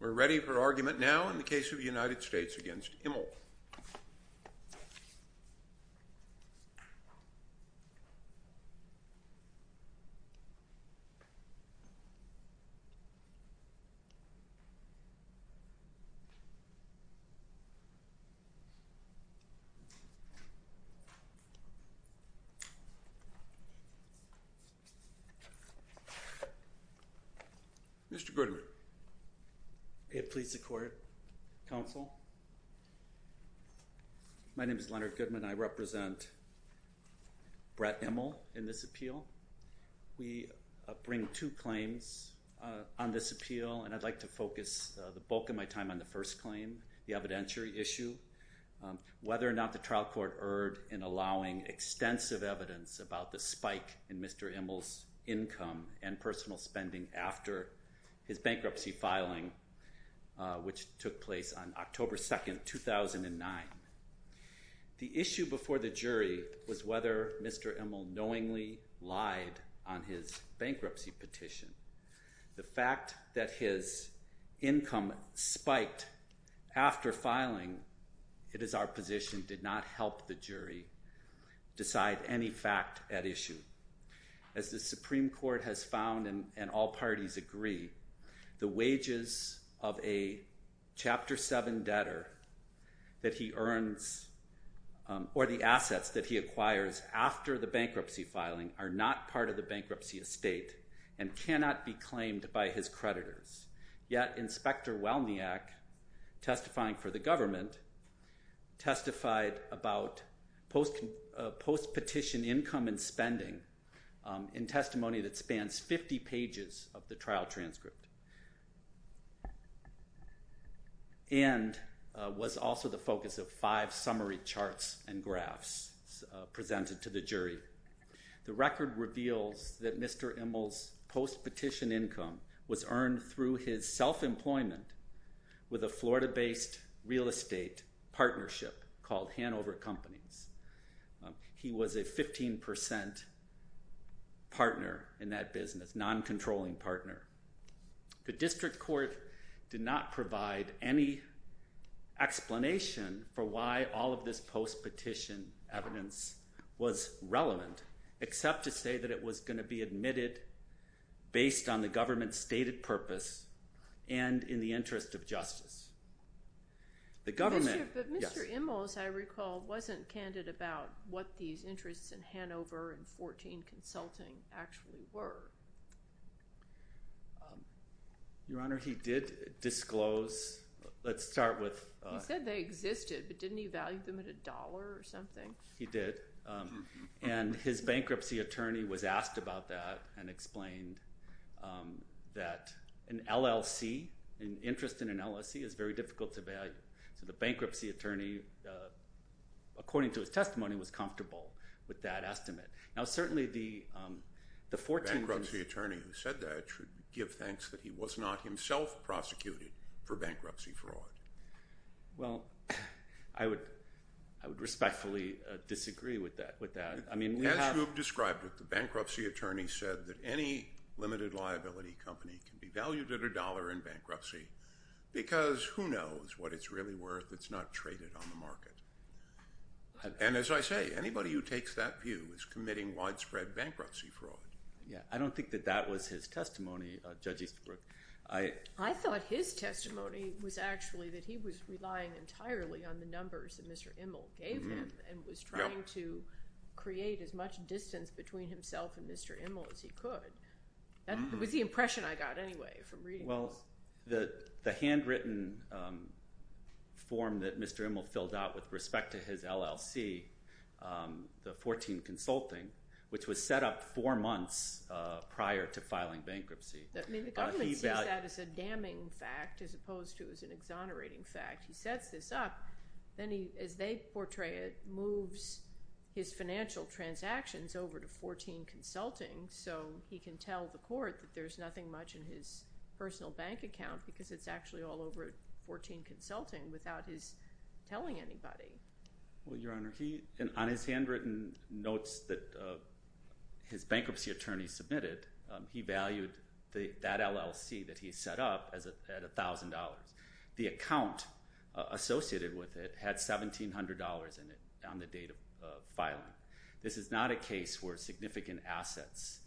We're ready for argument now in the case of the United States v. Immel. Okay. Mr. Goodman. May it please the Court, Counsel. My name is Leonard Goodman. I represent Brett Immel in this appeal. We bring two claims on this appeal, and I'd like to focus the bulk of my time on the first claim, the evidentiary issue, whether or not the trial court erred in allowing extensive evidence about the spike in Mr. Immel's income and personal spending after his bankruptcy filing, which took place on October 2, 2009. The issue before the jury was whether Mr. Immel knowingly lied on his bankruptcy petition. The fact that his income spiked after filing, it is our position, did not help the jury decide any fact at issue. As the Supreme Court has found, and all parties agree, the wages of a Chapter 7 debtor that he earns or the assets that he acquires after the bankruptcy filing are not part of the bankruptcy estate and cannot be claimed by his creditors. Yet Inspector Welniak, testifying for the government, testified about post-petition income and spending in testimony that spans 50 pages of the trial transcript and was also the focus of five summary charts and graphs presented to the jury. The record reveals that Mr. Immel's post-petition income was earned through his self-employment with a Florida-based real estate partnership called Hanover Companies. He was a 15% partner in that business, non-controlling partner. The district court did not provide any explanation for why all of this post-petition evidence was relevant except to say that it was going to be admitted based on the government's stated purpose and in the interest of justice. The government... But Mr. Immel, as I recall, wasn't candid about what these interests in Hanover and 14 Consulting actually were. Your Honor, he did disclose... let's start with... He said they existed, but didn't he value them at a dollar or something? He did, and his bankruptcy attorney was asked about that and explained that an LLC, an interest in an LLC, is very difficult to value. So the bankruptcy attorney, according to his testimony, was comfortable with that estimate. Now certainly the 14... The bankruptcy attorney who said that should give thanks that he was not himself prosecuted for bankruptcy fraud. Well, I would respectfully disagree with that. As you have described it, the bankruptcy attorney said that any limited liability company can be valued at a dollar in bankruptcy because who knows what it's really worth. It's not traded on the market. And as I say, anybody who takes that view is committing widespread bankruptcy fraud. Yeah, I don't think that that was his testimony, Judge Easterbrook. I thought his testimony was actually that he was relying entirely on the numbers that Mr. Immel gave him and was trying to create as much distance between himself and Mr. Immel as he could. It was the impression I got anyway from reading those. Well, the handwritten form that Mr. Immel filled out with respect to his LLC, the 14 consulting, which was set up four months prior to filing bankruptcy. I mean, the government sees that as a damning fact as opposed to as an exonerating fact. He sets this up. Then as they portray it, moves his financial transactions over to 14 consulting so he can tell the court that there's nothing much in his personal bank account because it's actually all over 14 consulting without his telling anybody. Well, Your Honor, on his handwritten notes that his bankruptcy attorney submitted, he valued that LLC that he set up at $1,000. The account associated with it had $1,700 in it on the date of filing. This is not a case where significant assets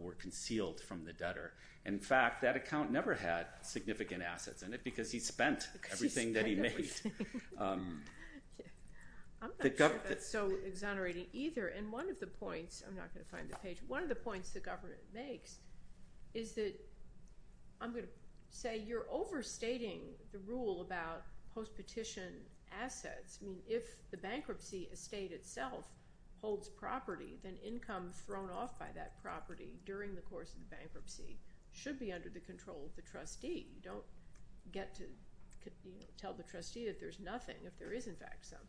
were concealed from the debtor. In fact, that account never had significant assets in it because he spent everything that he made. I'm not sure that's so exonerating either. And one of the points, I'm not going to find the page, one of the points the government makes is that, I'm going to say, you're overstating the rule about post-petition assets. I mean, if the bankruptcy estate itself holds property, then income thrown off by that property during the course of the bankruptcy should be under the control of the trustee. You don't get to tell the trustee that there's nothing if there is, in fact, something.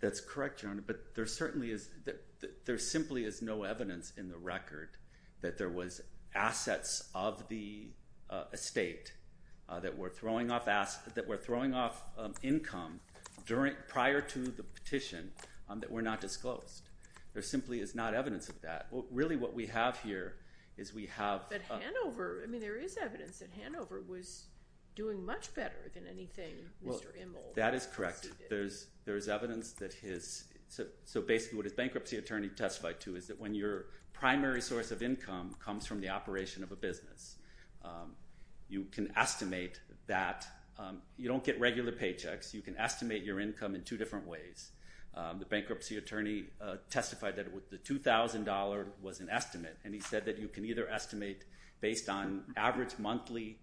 That's correct, Your Honor. But there certainly is no evidence in the record that there was assets of the estate that were throwing off income prior to the petition that were not disclosed. There simply is not evidence of that. Really, what we have here is we have— But Hanover, I mean, there is evidence that Hanover was doing much better than anything Mr. Immel— Well, that is correct. There is evidence that his—so basically what his bankruptcy attorney testified to is that when your primary source of income comes from the operation of a business, you can estimate that. You don't get regular paychecks. You can estimate your income in two different ways. The bankruptcy attorney testified that the $2,000 was an estimate, and he said that you can either estimate based on average monthly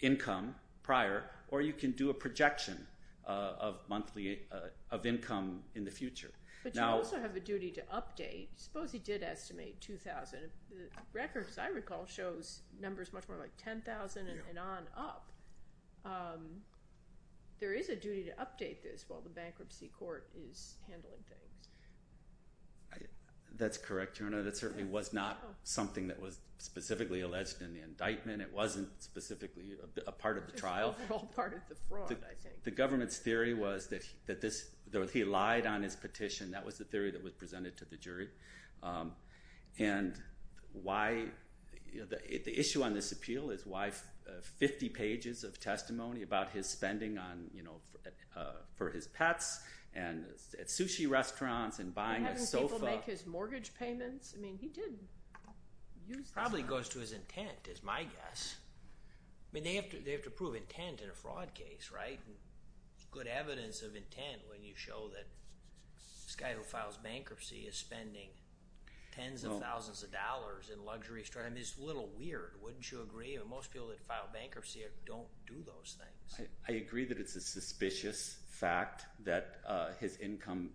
income prior, or you can do a projection of monthly income in the future. But you also have a duty to update. Suppose he did estimate $2,000. The record, as I recall, shows numbers much more like $10,000 and on up. There is a duty to update this while the bankruptcy court is handling things. That's correct, Your Honor. That certainly was not something that was specifically alleged in the indictment. It wasn't specifically a part of the trial. It's an overall part of the fraud, I think. The government's theory was that he lied on his petition. That was the theory that was presented to the jury. And the issue on this appeal is why 50 pages of testimony about his spending for his pets and at sushi restaurants and buying a sofa. Are you having people make his mortgage payments? I mean, he did use this money. It probably goes to his intent, is my guess. I mean, they have to prove intent in a fraud case, right? There's good evidence of intent when you show that this guy who files bankruptcy is spending tens of thousands of dollars in luxury stores. I mean, it's a little weird, wouldn't you agree? Most people that file bankruptcy don't do those things. I agree that it's a suspicious fact that his income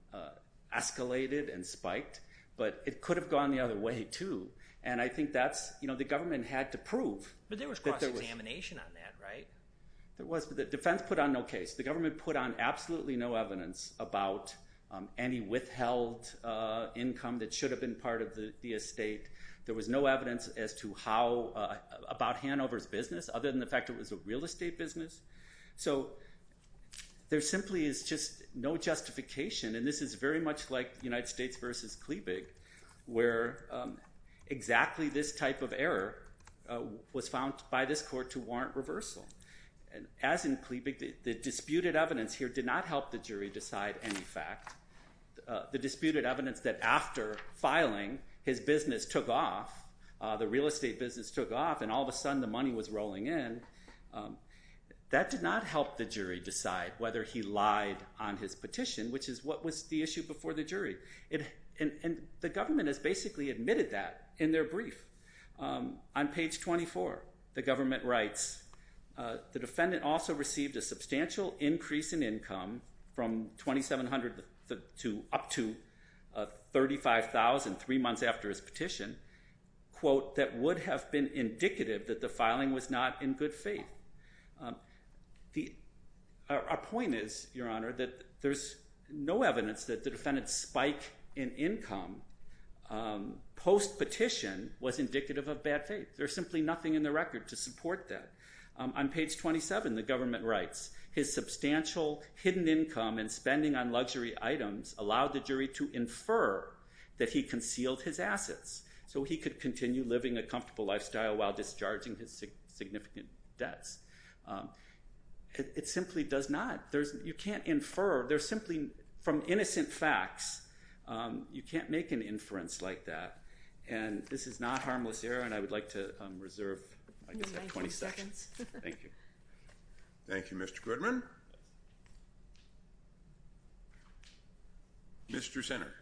escalated and spiked. But it could have gone the other way, too. And I think that's, you know, the government had to prove. But there was cross-examination on that, right? The defense put on no case. The government put on absolutely no evidence about any withheld income that should have been part of the estate. There was no evidence as to how about Hanover's business other than the fact it was a real estate business. So there simply is just no justification. And this is very much like United States v. Klebig where exactly this type of error was found by this court to warrant reversal. As in Klebig, the disputed evidence here did not help the jury decide any fact. The disputed evidence that after filing, his business took off, the real estate business took off, and all of a sudden the money was rolling in, that did not help the jury decide whether he lied on his petition, which is what was the issue before the jury. And the government has basically admitted that in their brief. On page 24, the government writes, the defendant also received a substantial increase in income from $2,700 up to $35,000 three months after his petition, quote, that would have been indicative that the filing was not in good faith. Our point is, Your Honor, that there's no evidence that the defendant's spike in income post-petition was indicative of bad faith. There's simply nothing in the record to support that. On page 27, the government writes, his substantial hidden income and spending on luxury items allowed the jury to infer that he concealed his assets so he could continue living a comfortable lifestyle while discharging his significant debts. It simply does not. You can't infer. They're simply from innocent facts. You can't make an inference like that. And this is not harmless error, and I would like to reserve 20 seconds. Thank you. Thank you, Mr. Goodman. Mr. Sinner.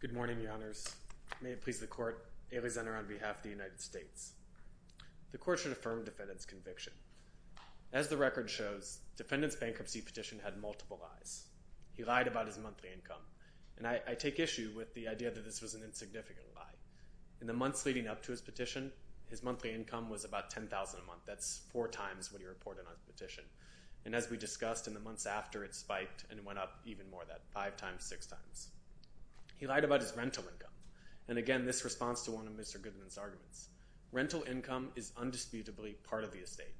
Good morning, Your Honors. May it please the court, Ailey Sinner on behalf of the United States. The court should affirm defendant's conviction. As the record shows, defendant's bankruptcy petition had multiple lies. He lied about his monthly income, and I take issue with the idea that this was an insignificant lie. In the months leading up to his petition, his monthly income was about $10,000 a month. That's four times what he reported on his petition. And as we discussed in the months after, it spiked and went up even more than that, five times, six times. He lied about his rental income. And again, this responds to one of Mr. Goodman's arguments. Rental income is undisputably part of the estate.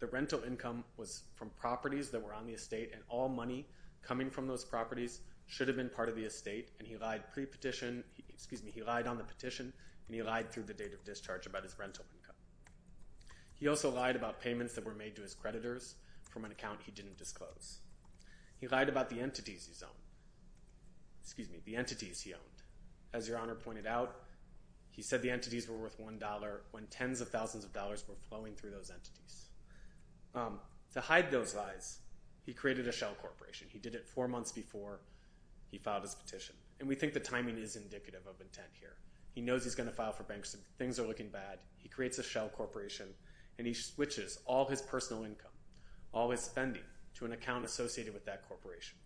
The rental income was from properties that were on the estate, and all money coming from those properties should have been part of the estate, and he lied on the petition, and he lied through the date of discharge about his rental income. He also lied about payments that were made to his creditors from an account he didn't disclose. He lied about the entities he owned. As Your Honor pointed out, he said the entities were worth $1 when tens of thousands of dollars were flowing through those entities. To hide those lies, he created a shell corporation. He did it four months before he filed his petition. And we think the timing is indicative of intent here. He knows he's going to file for bankruptcy. Things are looking bad. He creates a shell corporation, and he switches all his personal income, all his spending, to an account associated with that corporation.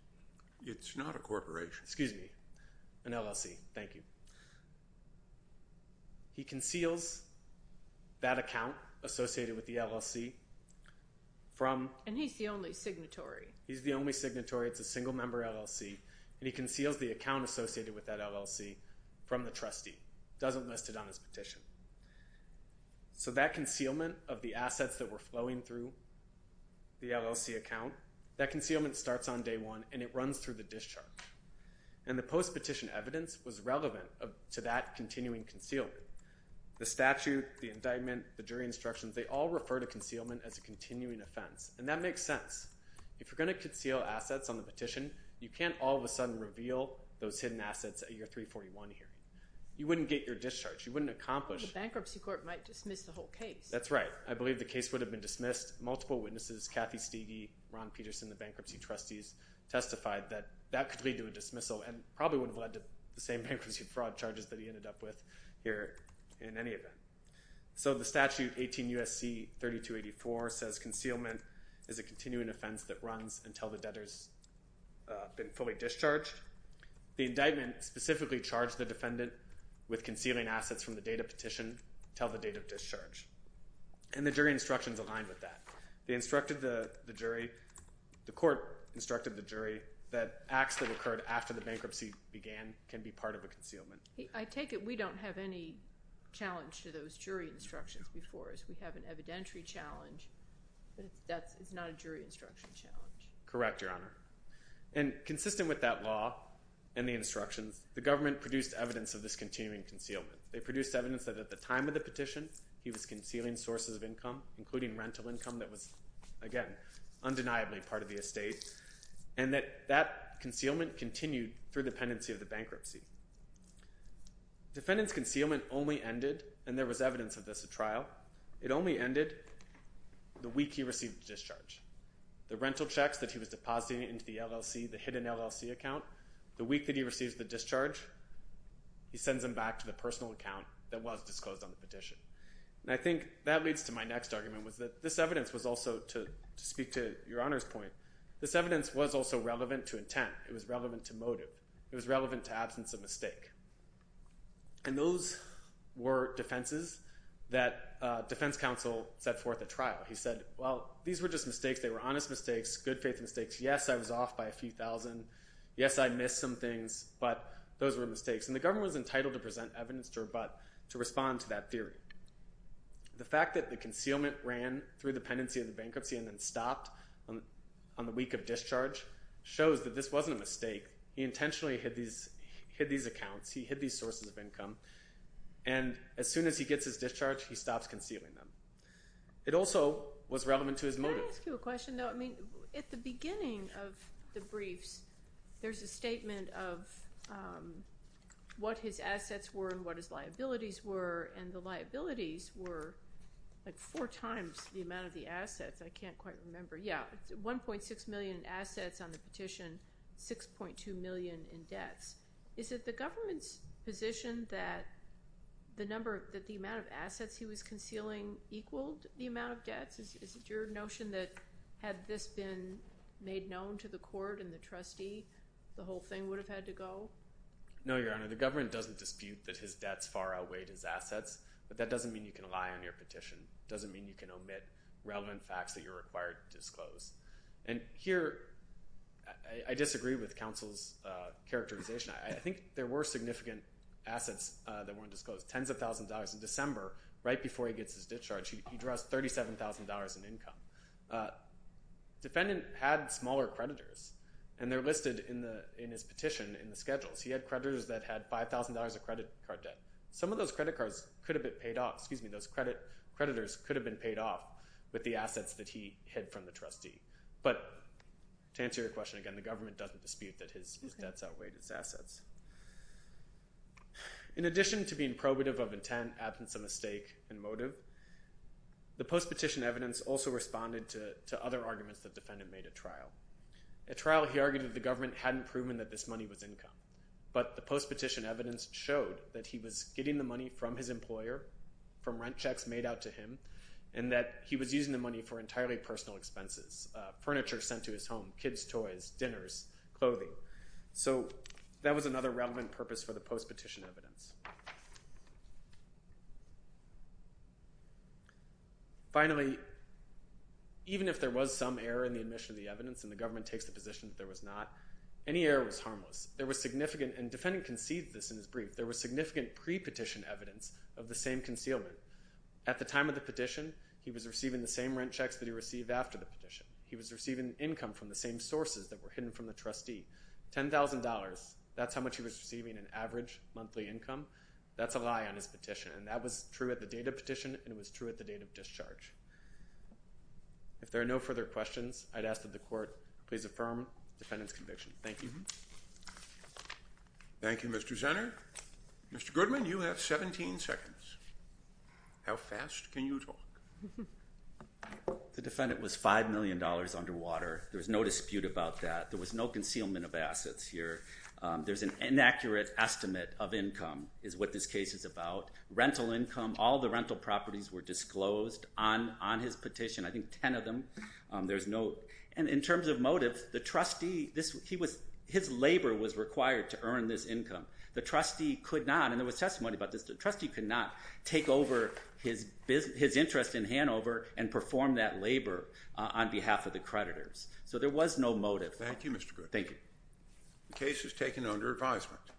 It's not a corporation. Excuse me. An LLC. Thank you. He conceals that account associated with the LLC from... And he's the only signatory. He's the only signatory. It's a single-member LLC. And he conceals the account associated with that LLC from the trustee. He doesn't list it on his petition. So that concealment of the assets that were flowing through the LLC account, that concealment starts on day one, and it runs through the discharge. And the post-petition evidence was relevant to that continuing concealment. The statute, the indictment, the jury instructions, they all refer to concealment as a continuing offense. And that makes sense. If you're going to conceal assets on the petition, you can't all of a sudden reveal those hidden assets at your 341 hearing. You wouldn't get your discharge. You wouldn't accomplish. The bankruptcy court might dismiss the whole case. That's right. I believe the case would have been dismissed. Multiple witnesses, Kathy Stege, Ron Peterson, the bankruptcy trustees, testified that that could lead to a dismissal and probably would have led to the same bankruptcy fraud charges that he ended up with here in any event. So the statute, 18 U.S.C. 3284, says concealment is a continuing offense that runs until the debtor's been fully discharged. The indictment specifically charged the defendant with concealing assets from the date of petition until the date of discharge. And the jury instructions align with that. They instructed the jury, the court instructed the jury that acts that occurred after the bankruptcy began can be part of a concealment. I take it we don't have any challenge to those jury instructions before us. We have an evidentiary challenge, but it's not a jury instruction challenge. Correct, Your Honor. And consistent with that law and the instructions, the government produced evidence of this continuing concealment. They produced evidence that at the time of the petition he was concealing sources of income, including rental income that was, again, undeniably part of the estate, and that that concealment continued through the pendency of the bankruptcy. Defendant's concealment only ended, and there was evidence of this at trial, it only ended the week he received the discharge. The rental checks that he was depositing into the LLC, the hidden LLC account, the week that he receives the discharge, he sends them back to the personal account that was disclosed on the petition. And I think that leads to my next argument, which is that this evidence was also, to speak to Your Honor's point, this evidence was also relevant to intent. It was relevant to motive. It was relevant to absence of mistake. And those were defenses that defense counsel set forth at trial. He said, well, these were just mistakes. They were honest mistakes, good faith mistakes. Yes, I was off by a few thousand. Yes, I missed some things, but those were mistakes. And the government was entitled to present evidence to rebut, to respond to that theory. The fact that the concealment ran through the pendency of the bankruptcy and then stopped on the week of discharge shows that this wasn't a mistake. He intentionally hid these accounts. He hid these sources of income. And as soon as he gets his discharge, he stops concealing them. It also was relevant to his motive. Can I ask you a question, though? I mean, at the beginning of the briefs, there's a statement of what his assets were and what his liabilities were, and the liabilities were like four times the amount of the assets. I can't quite remember. Yeah, 1.6 million in assets on the petition, 6.2 million in debts. Is it the government's position that the amount of assets he was concealing equaled the amount of debts? Is it your notion that had this been made known to the court and the trustee, the whole thing would have had to go? No, Your Honor. The government doesn't dispute that his debts far outweighed his assets, but that doesn't mean you can lie on your petition. It doesn't mean you can omit relevant facts that you're required to disclose. And here I disagree with counsel's characterization. I think there were significant assets that weren't disclosed. Tens of thousands of dollars in December, right before he gets his discharge, he draws $37,000 in income. Defendant had smaller creditors, and they're listed in his petition in the schedules. He had creditors that had $5,000 of credit card debt. Some of those credit cards could have been paid off. Those creditors could have been paid off with the assets that he hid from the trustee. But to answer your question again, the government doesn't dispute that his debts outweighed his assets. In addition to being probative of intent, absence of mistake, and motive, the post-petition evidence also responded to other arguments the defendant made at trial. At trial he argued that the government hadn't proven that this money was income, but the post-petition evidence showed that he was getting the money from his employer, from rent checks made out to him, and that he was using the money for entirely personal expenses, furniture sent to his home, kids' toys, dinners, clothing. So that was another relevant purpose for the post-petition evidence. Finally, even if there was some error in the admission of the evidence and the government takes the position that there was not, any error was harmless. There was significant, and the defendant conceded this in his brief, there was significant pre-petition evidence of the same concealment. At the time of the petition, he was receiving the same rent checks that he received after the petition. He was receiving income from the same sources that were hidden from the trustee. $10,000, that's how much he was receiving in average monthly income. That's a lie on his petition, and that was true at the date of petition, and it was true at the date of discharge. If there are no further questions, I'd ask that the court please affirm the defendant's conviction. Thank you. Thank you, Mr. Zenner. Mr. Goodman, you have 17 seconds. How fast can you talk? The defendant was $5 million underwater. There was no dispute about that. There was no concealment of assets here. There's an inaccurate estimate of income is what this case is about. Rental income, all the rental properties were disclosed on his petition, I think 10 of them. And in terms of motive, the trustee, his labor was required to earn this income. The trustee could not, and there was testimony about this, the trustee could not take over his interest in Hanover and perform that labor on behalf of the creditors. So there was no motive. Thank you, Mr. Goodman. Thank you. The case is taken under advisement.